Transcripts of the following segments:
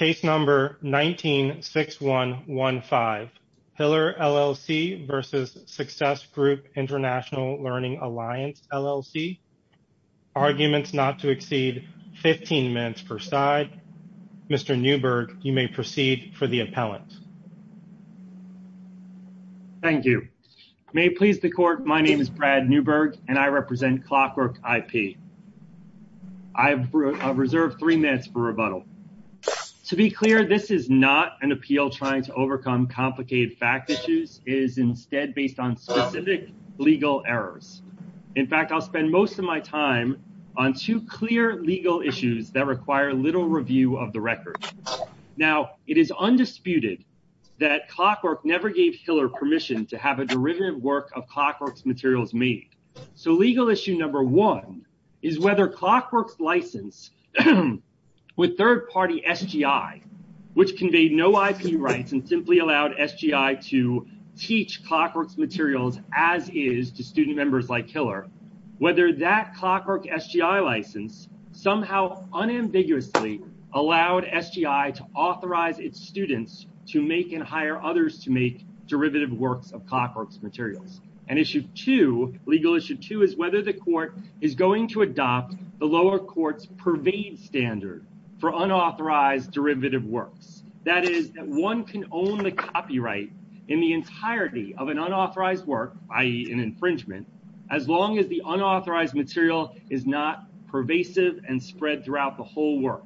Learning Alliance LLC. Arguments not to exceed 15 minutes per side. Mr. Newberg, you may proceed for the appellant. Thank you. May it please the court, my name is Brad Newberg and I represent Clockwork IP. I've reserved three minutes for rebuttal. To be clear, this is not an appeal trying to overcome complicated fact issues. It is instead based on specific legal errors. In fact, I'll spend most of my time on two clear legal issues that require little review of the record. Now, it is undisputed that Clockwork never gave Hiller permission to have a derivative work of Clockwork's materials made. So, legal issue number one is whether Clockwork's license with third-party SGI, which conveyed no IP rights and simply allowed SGI to teach Clockwork's materials as is to student members like Hiller. Whether that Clockwork SGI license somehow unambiguously allowed SGI to authorize its students to make and hire others to make derivative works of Clockwork's materials. And issue two, legal issue two, is whether the court is going to adopt the lower court's pervade standard for unauthorized derivative works. That is, that one can own the copyright in the entirety of an unauthorized work, i.e. an infringement, as long as the unauthorized material is not pervasive and spread throughout the whole work.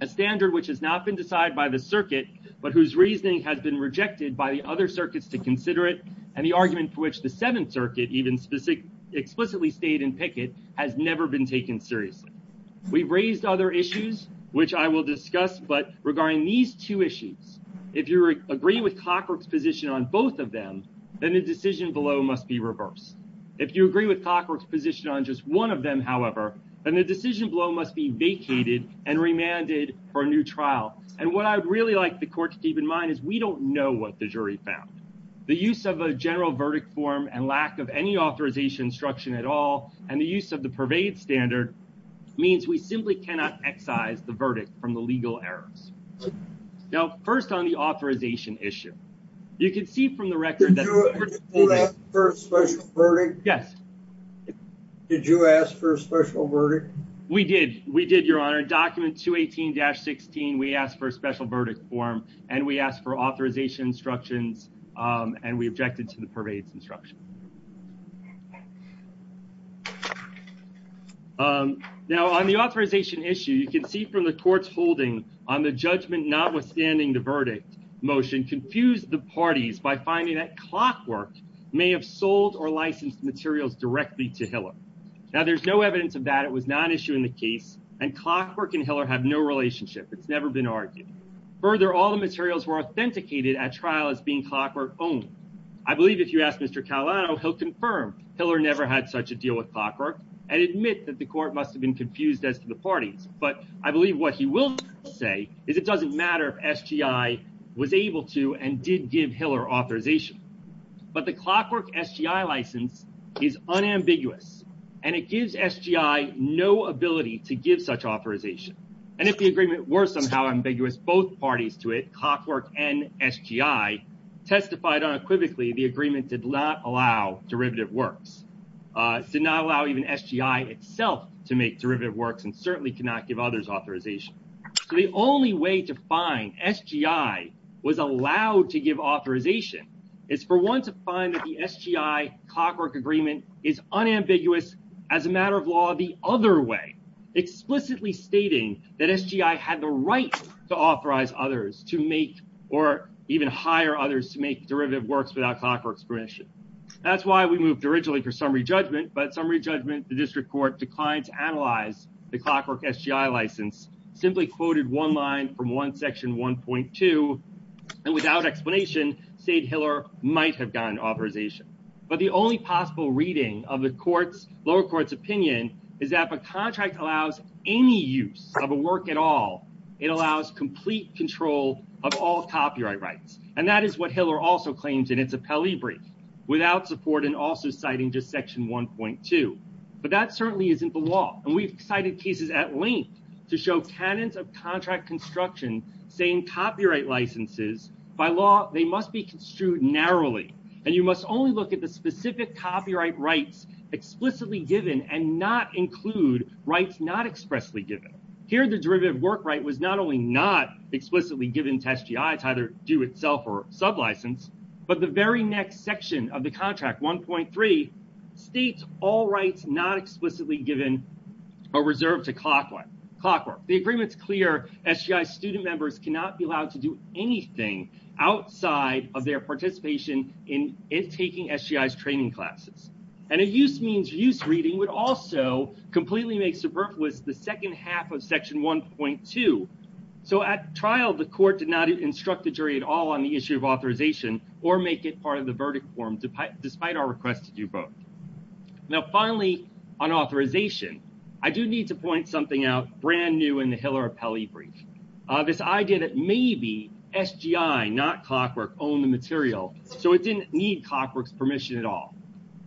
A standard which has not been decided by the circuit, but whose reasoning has been rejected by the other circuits to consider it, and the argument for which the Seventh Circuit even explicitly stated in Pickett has never been taken seriously. We've raised other issues, which I will discuss, but regarding these two issues, if you agree with Clockwork's position on both of them, then the decision below must be reversed. If you agree with Clockwork's position on just one of them, however, then the decision below must be vacated and remanded for a new trial. And what I'd really like the court to keep in mind is we don't know what the jury found. The use of a general verdict form and lack of any authorization instruction at all, and the use of the pervade standard, means we simply cannot excise the verdict from the legal errors. Now, first on the authorization issue, you can see from the record that... Did you ask for a special verdict? Yes. Did you ask for a special verdict? We did. We did, Your Honor. Document 218-16, we asked for a special verdict form, and we asked for authorization instructions, and we objected to the pervade's instruction. Now, on the authorization issue, you can see from the court's holding on the judgment notwithstanding the verdict motion, confused the parties by finding that Clockwork may have sold or licensed materials directly to Hiller. Now, there's no evidence of that. It was not issued in the case, and Clockwork and Hiller have no relationship. It's never been argued. Further, all the materials were authenticated at trial as being Clockwork-owned. I believe if you ask Mr. Caolano, he'll confirm Hiller never had such a deal with Clockwork and admit that the court must have been confused as to the parties. But I believe what he will say is it doesn't matter if SGI was able to and did give Hiller authorization. But the Clockwork SGI license is unambiguous, and it gives SGI no ability to give such authorization. And if the agreement were somehow ambiguous, both parties to it, Clockwork and SGI, testified unequivocally the agreement did not allow derivative works, did not allow even SGI itself to make derivative works, and certainly could not give others authorization. So the only way to find SGI was allowed to give authorization is for one to find that the SGI-Clockwork agreement is unambiguous as a matter of law the other way, explicitly stating that SGI had the right to authorize others to make or even hire others to make derivative works without Clockwork's permission. That's why we moved originally for summary judgment, but summary judgment, the district court declined to analyze the Clockwork SGI license, simply quoted one line from one section 1.2, and without explanation, said Hiller might have gotten authorization. But the only possible reading of the lower court's opinion is that if a contract allows any use of a work at all, it allows complete control of all copyright rights. And that is what Hiller also claims in its appellee brief, without support and also citing just section 1.2. But that certainly isn't the law. And we've cited cases at length to show canons of contract construction saying copyright licenses, by law, they must be construed narrowly. And you must only look at the specific copyright rights explicitly given and not include rights not expressly given. Here the derivative work right was not only not explicitly given to SGI to either do itself or sublicense, but the very next section of the contract, 1.3, states all rights not explicitly given or reserved to Clockwork. The agreement's clear, SGI student members cannot be allowed to do anything outside of their participation in taking SGI's training classes. And a use means use reading would also completely make superfluous the second half of section 1.2. So at trial, the court did not instruct the jury at all on the issue of authorization or make it part of the verdict form, despite our request to do both. Now, finally, on authorization, I do need to point something out brand new in the Hiller appellee brief. This idea that maybe SGI, not Clockwork, owned the material, so it didn't need Clockwork's permission at all.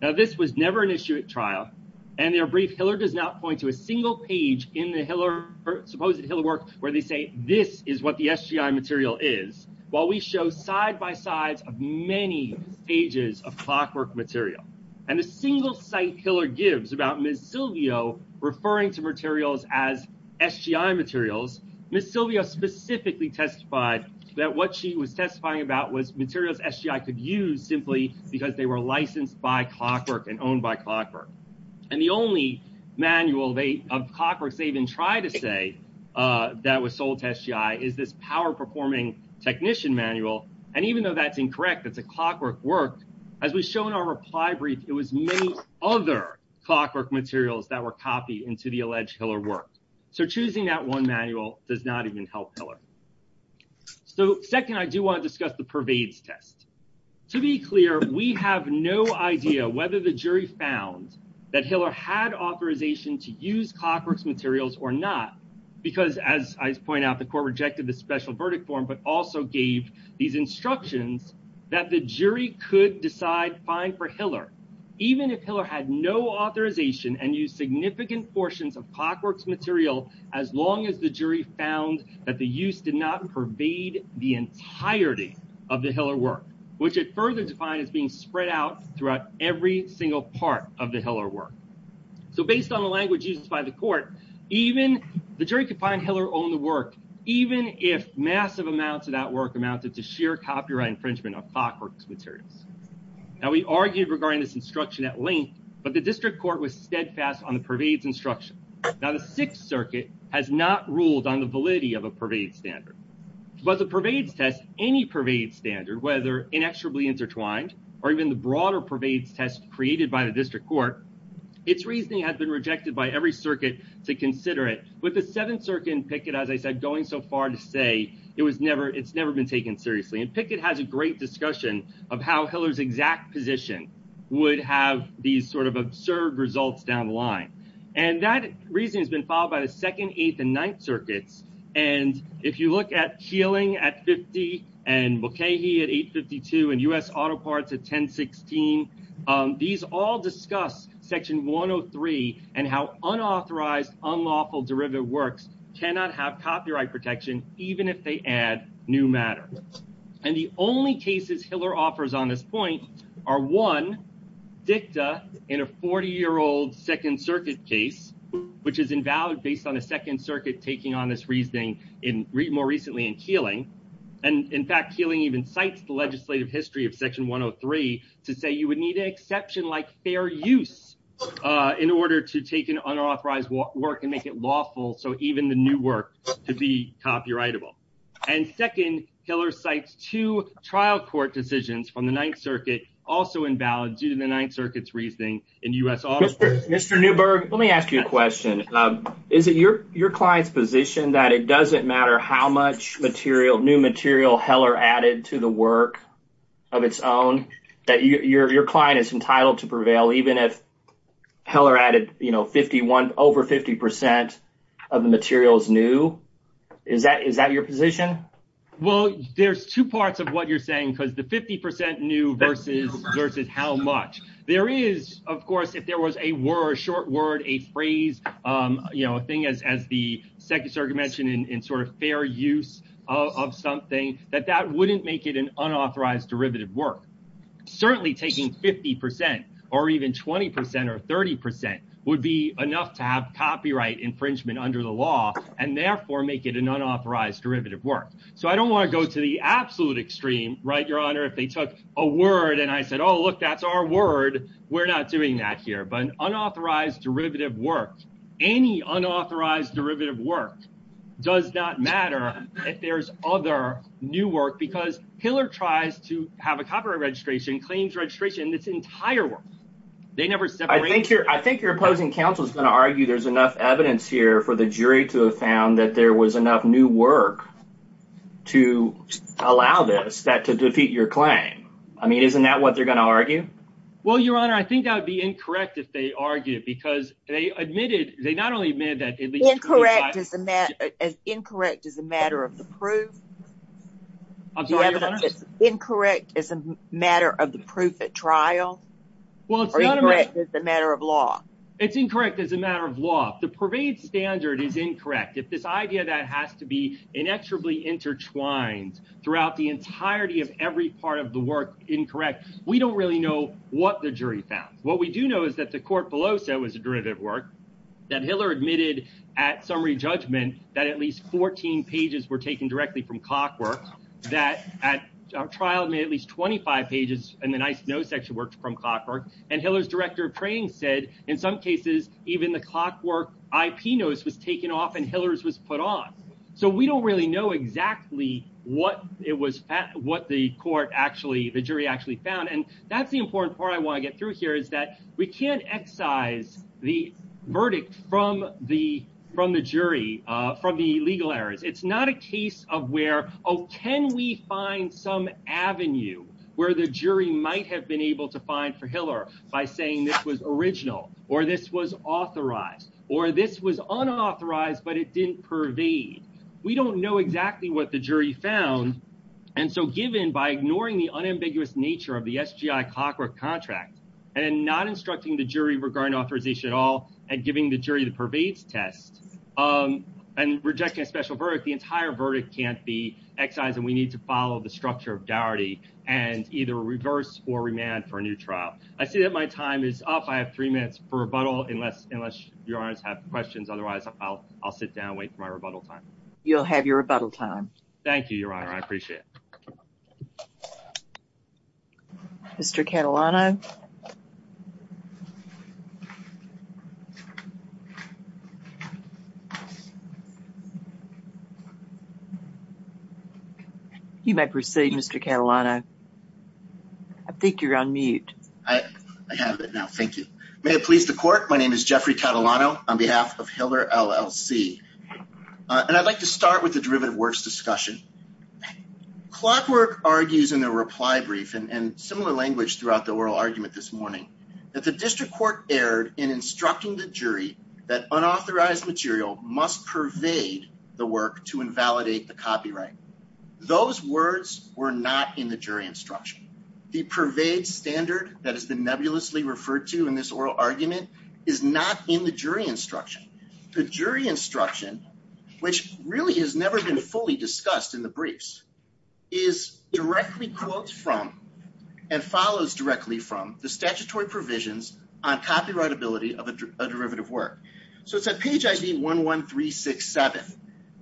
Now, this was never an issue at trial. And their brief, Hiller does not point to a single page in the supposed Hiller work where they say this is what the SGI material is. While we show side by sides of many pages of Clockwork material. And the single site Hiller gives about Ms. Silvio referring to materials as SGI materials, Ms. Silvio specifically testified that what she was testifying about was materials SGI could use simply because they were licensed by Clockwork and owned by Clockwork. And the only manual of Clockworks they even try to say that was sold to SGI is this power performing technician manual. And even though that's incorrect, it's a Clockwork work. As we show in our reply brief, it was many other Clockwork materials that were copied into the alleged Hiller work. So choosing that one manual does not even help Hiller. So second, I do want to discuss the pervades test. To be clear, we have no idea whether the jury found that Hiller had authorization to use Clockworks materials or not. Because as I point out, the court rejected the special verdict form, but also gave these instructions that the jury could decide fine for Hiller. Even if Hiller had no authorization and used significant portions of Clockworks material, as long as the jury found that the use did not pervade the entirety of the Hiller work, which it further defined as being spread out throughout every single part of the Hiller work. So based on the language used by the court, even the jury could find Hiller owned the work, even if massive amounts of that work amounted to sheer copyright infringement of Clockworks materials. Now we argued regarding this instruction at length, but the district court was steadfast on the pervades instruction. Now the Sixth Circuit has not ruled on the validity of a pervades standard. But the pervades test, any pervades standard, whether inexorably intertwined or even the broader pervades test created by the district court, its reasoning has been rejected by every circuit to consider it. With the Seventh Circuit and Pickett, as I said, going so far to say it's never been taken seriously. And Pickett has a great discussion of how Hiller's exact position would have these sort of absurd results down the line. And that reasoning has been followed by the Second, Eighth, and Ninth Circuits. And if you look at Keeling at 50 and Mulcahy at 852 and U.S. Auto Parts at 1016, these all discuss Section 103 and how unauthorized, unlawful derivative works cannot have copyright protection, even if they add new matter. And the only cases Hiller offers on this point are, one, dicta in a 40-year-old Second Circuit case, which is invalid based on the Second Circuit taking on this reasoning more recently in Keeling. And in fact, Keeling even cites the legislative history of Section 103 to say you would need an exception like fair use in order to take an unauthorized work and make it lawful, so even the new work could be copyrightable. And second, Hiller cites two trial court decisions from the Ninth Circuit, also invalid due to the Ninth Circuit's reasoning in U.S. Auto Parts. Mr. Newberg, let me ask you a question. Is it your client's position that it doesn't matter how much material, new material Hiller added to the work of its own, that your client is entitled to prevail even if Hiller added, you know, 51, over 50 percent of the materials new? Is that your position? Well, there's two parts of what you're saying, because the 50 percent new versus how much. There is, of course, if there was a word, a short word, a phrase, you know, a thing as the Second Circuit mentioned in sort of fair use of something, that that wouldn't make it an unauthorized derivative work. Certainly taking 50 percent or even 20 percent or 30 percent would be enough to have copyright infringement under the law and therefore make it an unauthorized derivative work. So I don't want to go to the absolute extreme, right, Your Honor, if they took a word and I said, oh, look, that's our word. We're not doing that here. But unauthorized derivative work, any unauthorized derivative work does not matter if there's other new work because Hiller tries to have a copyright registration, claims registration, this entire work. They never said I think you're I think you're opposing counsel is going to argue there's enough evidence here for the jury to have found that there was enough new work to allow this that to defeat your claim. I mean, isn't that what they're going to argue? Well, Your Honor, I think that would be incorrect if they argued because they admitted they not only made that incorrect as incorrect as a matter of the proof. Incorrect as a matter of the proof at trial. Well, it's not a matter of law. It's incorrect as a matter of law. The parade standard is incorrect. If this idea that has to be inexorably intertwined throughout the entirety of every part of the work incorrect, we don't really know what the jury found. What we do know is that the court below said it was a derivative work that Hiller admitted at summary judgment that at least 14 pages were taken directly from clockwork that at trial made at least 25 pages. And the nice nose actually worked from clockwork. And Hiller's director of training said in some cases, even the clockwork IP nose was taken off and Hiller's was put on. So we don't really know exactly what it was, what the court actually the jury actually found. And that's the important part I want to get through here is that we can't excise the verdict from the from the jury, from the legal errors. It's not a case of where, oh, can we find some avenue where the jury might have been able to find for Hiller by saying this was original or this was authorized or this was unauthorized, but it didn't pervade. We don't know exactly what the jury found. And so given by ignoring the unambiguous nature of the SGI clockwork contract and not instructing the jury regarding authorization at all and giving the jury the pervades test and rejecting a special verdict, the entire verdict can't be excised. And we need to follow the structure of dowry and either reverse or remand for a new trial. I see that my time is up. I have three minutes for rebuttal unless unless your eyes have questions. Otherwise, I'll sit down, wait for my rebuttal time. You'll have your rebuttal time. Thank you, your honor. I appreciate it. Mr. Catalano. You may proceed, Mr. Catalano. I think you're on mute. I have it now. Thank you. May it please the court. My name is Jeffrey Catalano on behalf of Hiller LLC, and I'd like to start with the derivative works discussion. Clockwork argues in the reply brief and similar language throughout the oral argument this morning that the district court erred in instructing the jury that unauthorized material must pervade the work to invalidate the copyright. Those words were not in the jury instruction. The pervade standard that has been nebulously referred to in this oral argument is not in the jury instruction. The jury instruction, which really has never been fully discussed in the briefs, is directly quotes from and follows directly from the statutory provisions on copyright ability of a derivative work. So it's at page ID 11367.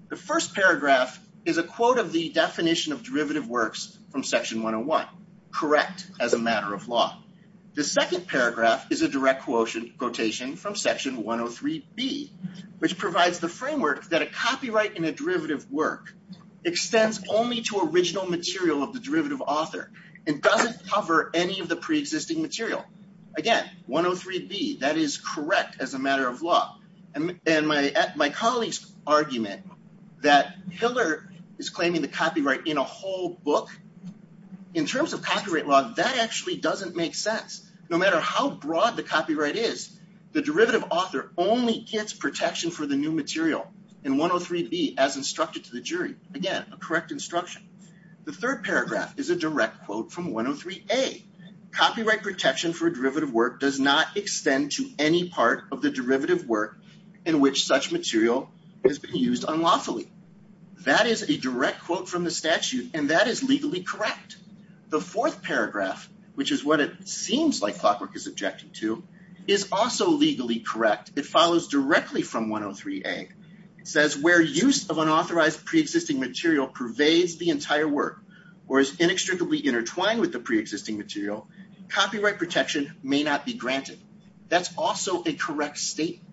The first paragraph is a quote of the definition of derivative works from section 101, correct as a matter of law. The second paragraph is a direct quotation from section 103B, which provides the framework that a copyright in a derivative work extends only to original material of the derivative author and doesn't cover any of the preexisting material. Again, 103B, that is correct as a matter of law. And my colleague's argument that Hiller is claiming the copyright in a whole book, in terms of copyright law, that actually doesn't make sense. No matter how broad the copyright is, the derivative author only gets protection for the new material in 103B as instructed to the jury. Again, a correct instruction. The third paragraph is a direct quote from 103A. Copyright protection for a derivative work does not extend to any part of the derivative work in which such material has been used unlawfully. That is a direct quote from the statute, and that is legally correct. The fourth paragraph, which is what it seems like Clockwork is objecting to, is also legally correct. It follows directly from 103A. It says, where use of unauthorized preexisting material pervades the entire work or is inextricably intertwined with the preexisting material, copyright protection may not be granted. That's also a correct statement.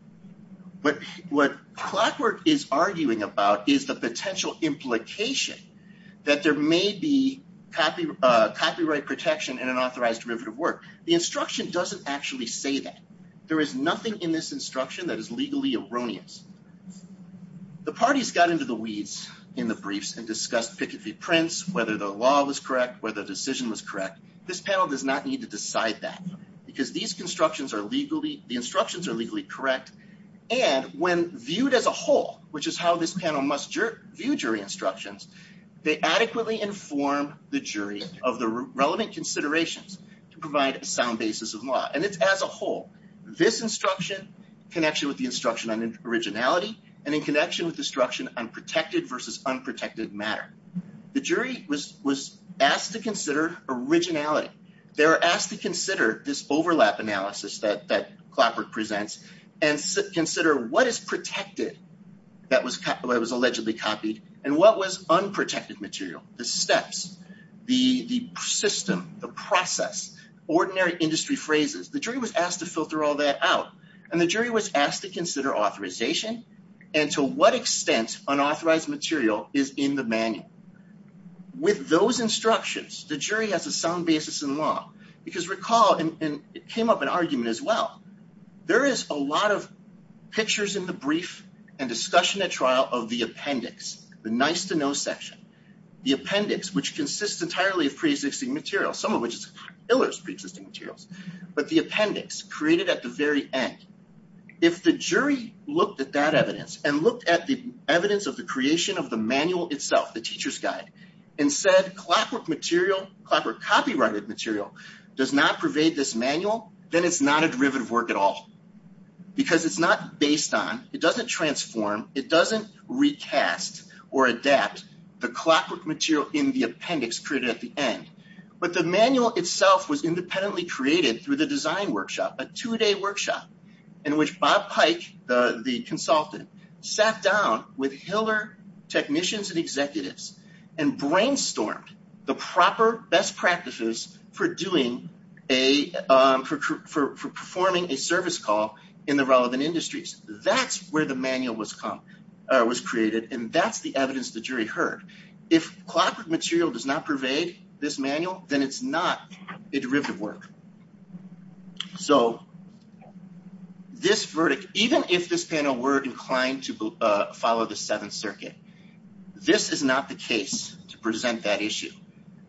But what Clockwork is arguing about is the potential implication that there may be copyright protection in an authorized derivative work. The instruction doesn't actually say that. There is nothing in this instruction that is legally erroneous. The parties got into the weeds in the briefs and discussed Pickett v. Prince, whether the law was correct, whether the decision was correct. This panel does not need to decide that because these instructions are legally correct. And when viewed as a whole, which is how this panel must view jury instructions, they adequately inform the jury of the relevant considerations to provide a sound basis of law. And it's as a whole, this instruction, connection with the instruction on originality, and in connection with the instruction on protected versus unprotected matter. The jury was asked to consider originality. They were asked to consider this overlap analysis that Clockwork presents and consider what is protected that was allegedly copied and what was unprotected material. The steps, the system, the process, ordinary industry phrases. The jury was asked to filter all that out. And the jury was asked to consider authorization and to what extent unauthorized material is in the manual. With those instructions, the jury has a sound basis in law. Because recall, and it came up in argument as well, there is a lot of pictures in the brief and discussion at trial of the appendix, the nice to know section. The appendix, which consists entirely of pre-existing material, some of which is pre-existing materials. But the appendix created at the very end. If the jury looked at that evidence and looked at the evidence of the creation of the manual itself, the teacher's guide, and said Clockwork copyrighted material does not pervade this manual, then it's not a derivative work at all. Because it's not based on, it doesn't transform, it doesn't recast or adapt the Clockwork material in the appendix created at the end. But the manual itself was independently created through the design workshop, a two-day workshop in which Bob Pike, the consultant, sat down with Hiller technicians and executives and brainstormed the proper best practices for doing a, for performing a service call in the relevant industries. That's where the manual was created. And that's the evidence the jury heard. If Clockwork material does not pervade this manual, then it's not a derivative work. So this verdict, even if this panel were inclined to follow the Seventh Circuit, this is not the case to present that issue.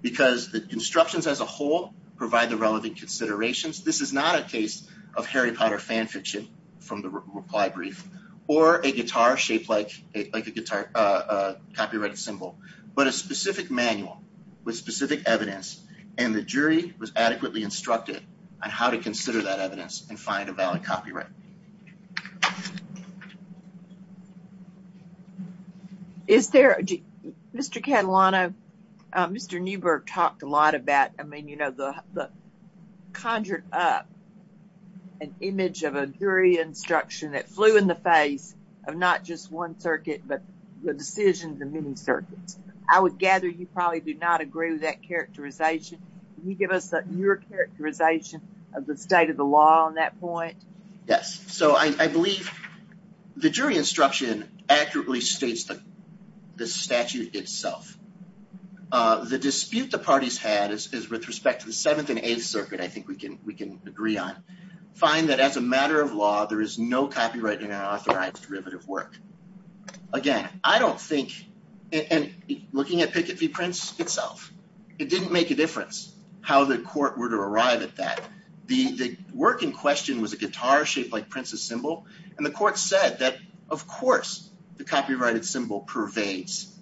Because the instructions as a whole provide the relevant considerations. This is not a case of Harry Potter fan fiction from the reply brief or a guitar shaped like a copyrighted symbol. But a specific manual with specific evidence and the jury was adequately instructed on how to consider that evidence and find a valid copyright. Is there, Mr. Catalano, Mr. Newberg talked a lot about, I mean, you know, the conjured up an image of a jury instruction that flew in the face of not just one circuit, but the decision of the many circuits. I would gather you probably do not agree with that characterization. Can you give us your characterization of the state of the law on that point? Yes, so I believe the jury instruction accurately states the statute itself. The dispute the parties had is with respect to the Seventh and Eighth Circuit, I think we can agree on, find that as a matter of law, there is no copyright and unauthorized derivative work. Again, I don't think, and looking at Pickett v. Prince itself, it didn't make a difference how the court were to arrive at that. The work in question was a guitar shaped like Prince's symbol, and the court said that, of course, the copyrighted symbol pervades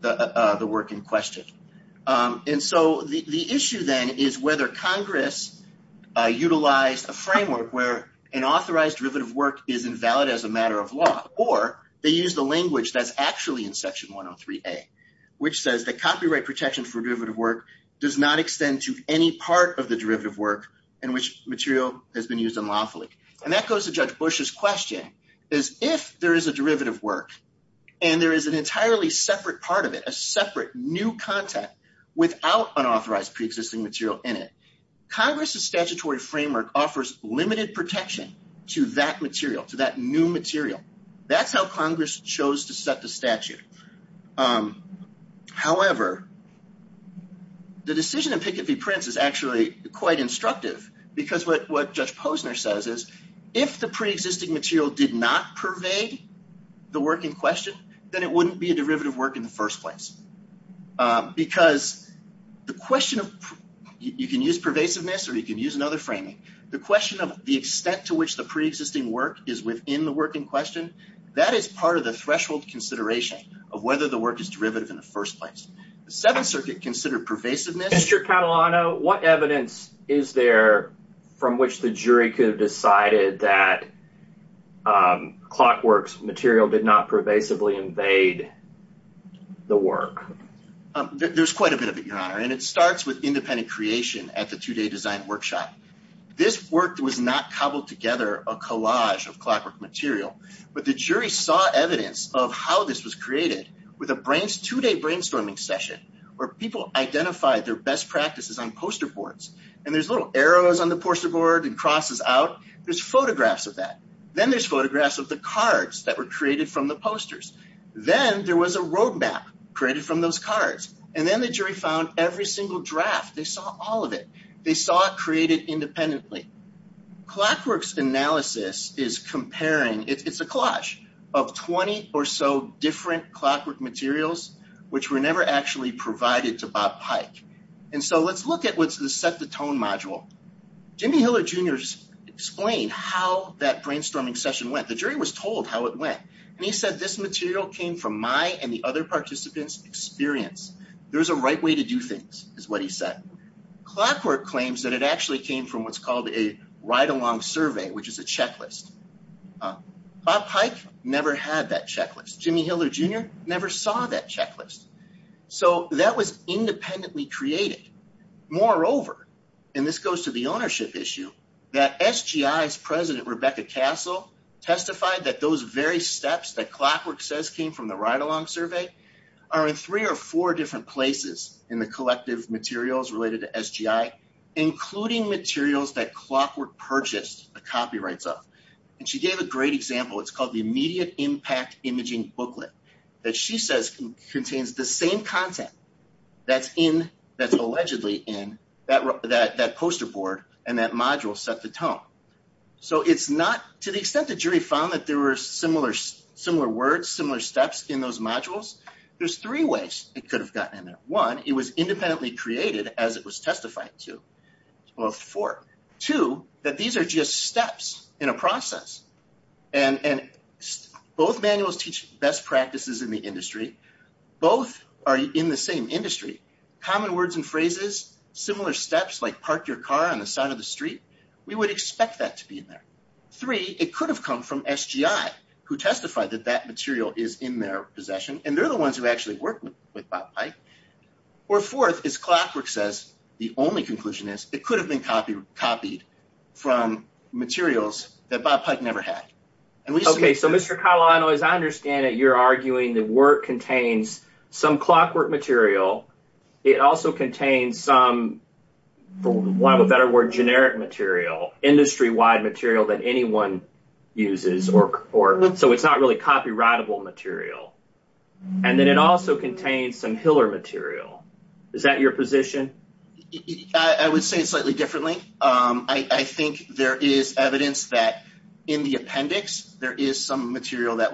the work in question. And so the issue then is whether Congress utilized a framework where an authorized derivative work is invalid as a matter of law, or they use the language that's actually in Section 103A, which says that copyright protection for derivative work does not extend to any part of the derivative work in which material has been used unlawfully. And that goes to Judge Bush's question, is if there is a derivative work and there is an entirely separate part of it, a separate new content without unauthorized pre-existing material in it, Congress's statutory framework offers limited protection to that material, to that new material. That's how Congress chose to set the statute. However, the decision in Pickett v. Prince is actually quite instructive, because what Judge Posner says is, if the pre-existing material did not pervade the work in question, then it wouldn't be a derivative work in the first place. Because the question of—you can use pervasiveness or you can use another framing—the question of the extent to which the pre-existing work is within the work in question, that is part of the threshold consideration of whether the work is derivative in the first place. The Seventh Circuit considered pervasiveness— Mr. Catalano, what evidence is there from which the jury could have decided that Clockwork's material did not pervasively invade the work? There's quite a bit of it, Your Honor, and it starts with independent creation at the two-day design workshop. This work was not cobbled together, a collage of Clockwork material, but the jury saw evidence of how this was created with a two-day brainstorming session where people identified their best practices on poster boards. And there's little arrows on the poster board and crosses out. There's photographs of that. Then there's photographs of the cards that were created from the posters. Then there was a roadmap created from those cards. And then the jury found every single draft. They saw all of it. They saw it created independently. Clockwork's analysis is comparing—it's a collage of 20 or so different Clockwork materials, which were never actually provided to Bob Pike. And so let's look at what's the set the tone module. Jimmy Hiller Jr. explained how that brainstorming session went. The jury was told how it went. And he said, this material came from my and the other participants' experience. There's a right way to do things, is what he said. Clockwork claims that it actually came from what's called a ride-along survey, which is a checklist. Bob Pike never had that checklist. Jimmy Hiller Jr. never saw that checklist. So that was independently created. Moreover—and this goes to the ownership issue—that SGI's president, Rebecca Castle, testified that those very steps that Clockwork says came from the ride-along survey are in three or four different places in the collective materials related to SGI, including materials that Clockwork purchased the copyrights of. And she gave a great example. It's called the Immediate Impact Imaging Booklet that she says contains the same content that's allegedly in that poster board and that module set the tone. So to the extent the jury found that there were similar words, similar steps in those modules, there's three ways it could have gotten in there. One, it was independently created as it was testified to. Two, that these are just steps in a process. And both manuals teach best practices in the industry. Both are in the same industry. Common words and phrases, similar steps, like park your car on the side of the street. We would expect that to be in there. Three, it could have come from SGI, who testified that that material is in their possession, and they're the ones who actually work with Bob Pike. Or fourth, as Clockwork says, the only conclusion is it could have been copied from materials that Bob Pike never had. Okay, so Mr. Catalano, as I understand it, you're arguing that work contains some Clockwork material. It also contains some, for lack of a better word, generic material, industry-wide material that anyone uses. So it's not really copyrightable material. And then it also contains some Hiller material. Is that your position? I would say it slightly differently. I think there is evidence that in the appendix, there is some material that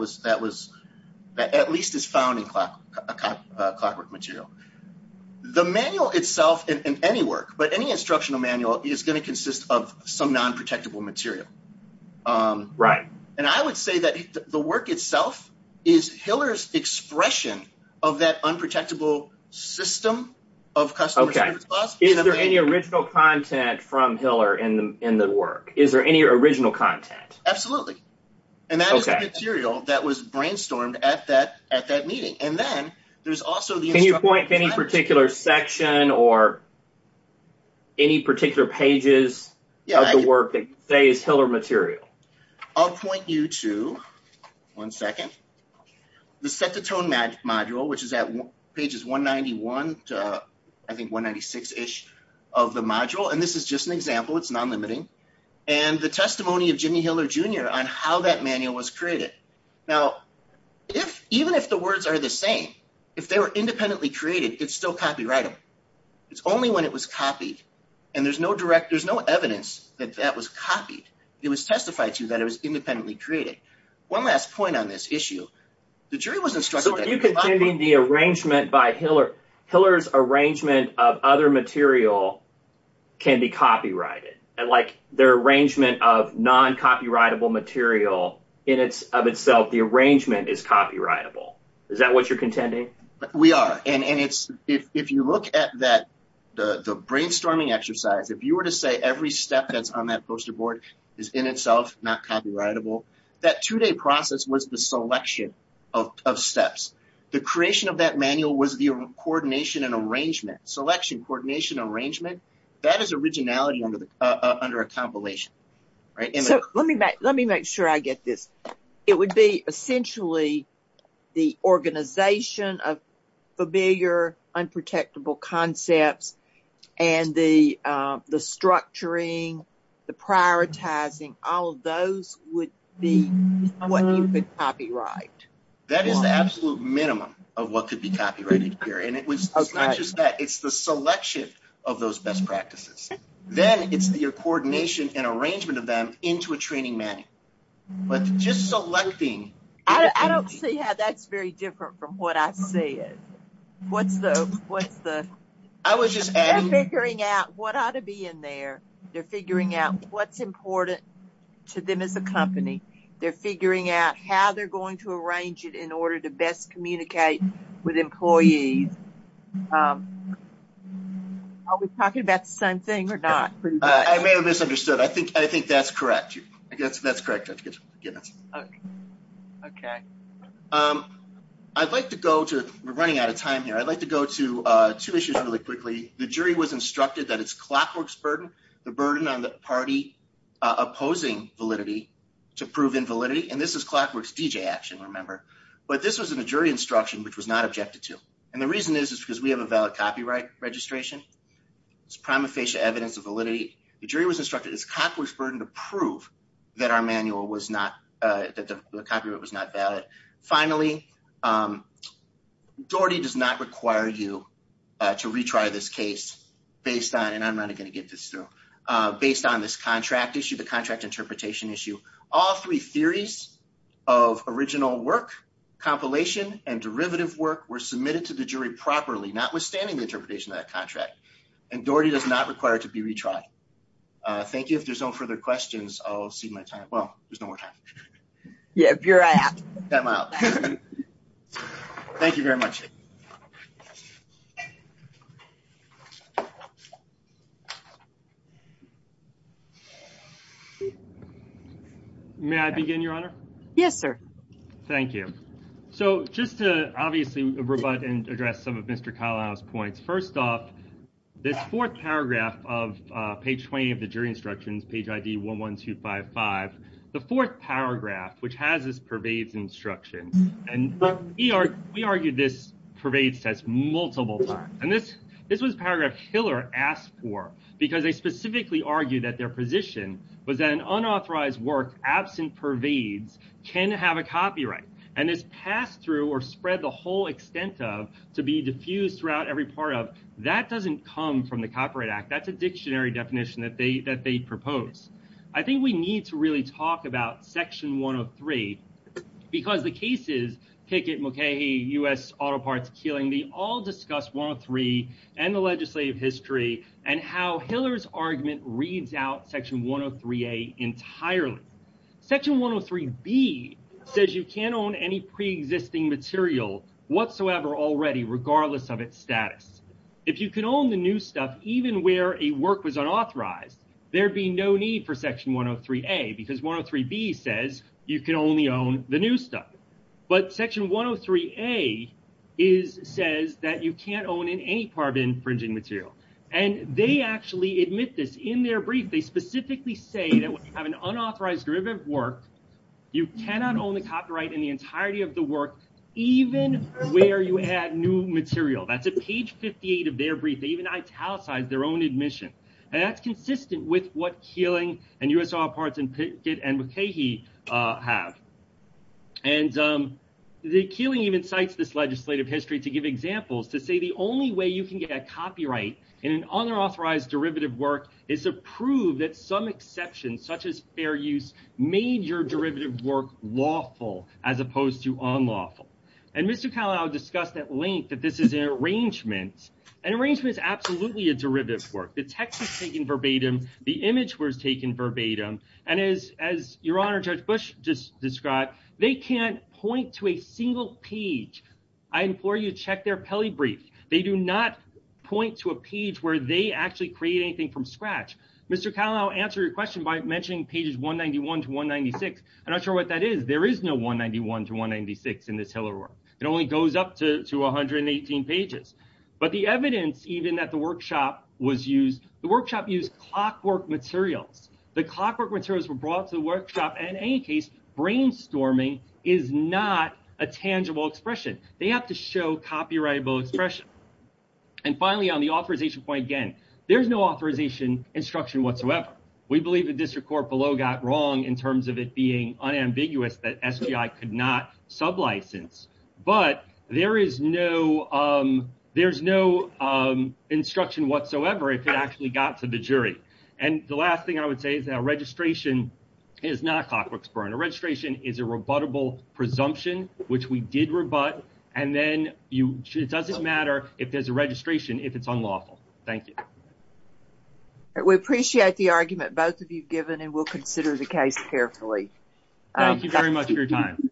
at least is found in Clockwork material. The manual itself, in any work, but any instructional manual, is going to consist of some non-protectable material. Right. And I would say that the work itself is Hiller's expression of that unprotectable system of customer service. Is there any original content from Hiller in the work? Is there any original content? Absolutely. And that is the material that was brainstormed at that meeting. And then there's also the... Can you point to any particular section or any particular pages of the work that say is Hiller material? I'll point you to, one second, the Set the Tone module, which is at pages 191 to, I think, 196-ish of the module. And this is just an example. It's non-limiting. And the testimony of Jimmy Hiller Jr. on how that manual was created. Now, even if the words are the same, if they were independently created, it's still copyrighted. It's only when it was copied. And there's no direct... There's no evidence that that was copied. It was testified to that it was independently created. One last point on this issue. The jury was instructed... So are you contending the arrangement by Hiller... Hiller's arrangement of other material can be copyrighted? And their arrangement of non-copyrightable material, in and of itself, the arrangement is copyrightable. Is that what you're contending? We are. And if you look at the brainstorming exercise, if you were to say every step that's on that poster board is in itself not copyrightable, that two-day process was the selection of steps. Selection, coordination, arrangement. That is originality under a compilation, right? So let me make sure I get this. It would be essentially the organization of familiar, unprotectable concepts and the structuring, the prioritizing, all of those would be what you would copyright. That is the absolute minimum of what could be copyrighted here. And it was not just that. It's the selection of those best practices. Then it's your coordination and arrangement of them into a training manual. But just selecting... I don't see how that's very different from what I see it. What's the... I was just adding... They're figuring out what ought to be in there. They're figuring out what's important to them as a company. They're figuring out how they're going to arrange it in order to best communicate with employees. Are we talking about the same thing or not? I may have misunderstood. I think that's correct. I guess that's correct. Okay. I'd like to go to... We're running out of time here. I'd like to go to two issues really quickly. The jury was instructed that it's Clockwork's burden, the burden on the party opposing validity to prove invalidity. And this is Clockwork's DJ action, remember. But this was in a jury instruction, which was not objected to. And the reason is, is because we have a valid copyright registration. It's prima facie evidence of validity. The jury was instructed it's Clockwork's burden to prove that our manual was not... That the copyright was not valid. Finally, Doherty does not require you to retry this case based on... And I'm not going to get this through. Based on this contract issue, the contract interpretation issue. All three theories of original work, compilation, and derivative work were submitted to the jury properly, notwithstanding the interpretation of that contract. And Doherty does not require it to be retried. Thank you. If there's no further questions, I'll see my time. Well, there's no more time. Yeah, if you're out. I'm out. Thank you very much. May I begin, Your Honor? Yes, sir. Thank you. So, just to, obviously, rebut and address some of Mr. Kalao's points. First off, this fourth paragraph of page 20 of the jury instructions, page ID 11255. The fourth paragraph, which has this pervades instruction. And we argued this pervades test multiple times. And this was paragraph Hiller asked for, because they specifically argued that their position was that an unauthorized work absent pervades can have a copyright. And this pass through or spread the whole extent of to be diffused throughout every part of that doesn't come from the Copyright Act. That's a dictionary definition that they propose. I think we need to really talk about section 103, because the cases, Kickett, Mulcahy, U.S. Auto Parts, Keeling, they all discuss 103 and the legislative history and how Hiller's argument reads out section 103A entirely. Section 103B says you can't own any pre-existing material whatsoever already, regardless of its status. If you can own the new stuff, even where a work was unauthorized, there'd be no need for section 103A, because 103B says you can only own the new stuff. But section 103A says that you can't own in any part of infringing material. And they actually admit this in their brief. They specifically say that when you have an unauthorized derivative work, you cannot own the copyright in the entirety of the work, even where you add new material. That's at page 58 of their brief. They even italicized their own admission. And that's consistent with what Keeling and U.S. Auto Parts and Kickett and Mulcahy have. And the Keeling even cites this legislative history to give examples to say the only way you can get a copyright in an unauthorized derivative work is to prove that some exceptions, such as fair use, made your derivative work lawful as opposed to unlawful. And Mr. Connelly, I'll discuss at length that this is an arrangement. An arrangement is absolutely a derivative work. The text is taken verbatim. The image was taken verbatim. And as Your Honor, Judge Bush just described, they can't point to a single page. I implore you to check their Pele brief. They do not point to a page where they actually create anything from scratch. Mr. Connelly, I'll answer your question by mentioning pages 191 to 196. I'm not sure what that is. There is no 191 to 196 in this Hiller work. It only goes up to 118 pages. But the evidence even that the workshop was used, the workshop used clockwork materials. The clockwork materials were brought to the workshop. And in any case, brainstorming is not a tangible expression. They have to show copyrightable expression. And finally, on the authorization point, again, there's no authorization instruction whatsoever. We believe the district court below got wrong in terms of it being unambiguous that SGI could not sublicense. But there is no instruction whatsoever if it actually got to the jury. And the last thing I would say is that a registration is not a clockwork burn. A registration is a rebuttable presumption, which we did rebut. And then it doesn't matter if there's a registration if it's unlawful. Thank you. We appreciate the argument both of you have given, and we'll consider the case carefully. Thank you very much for your time.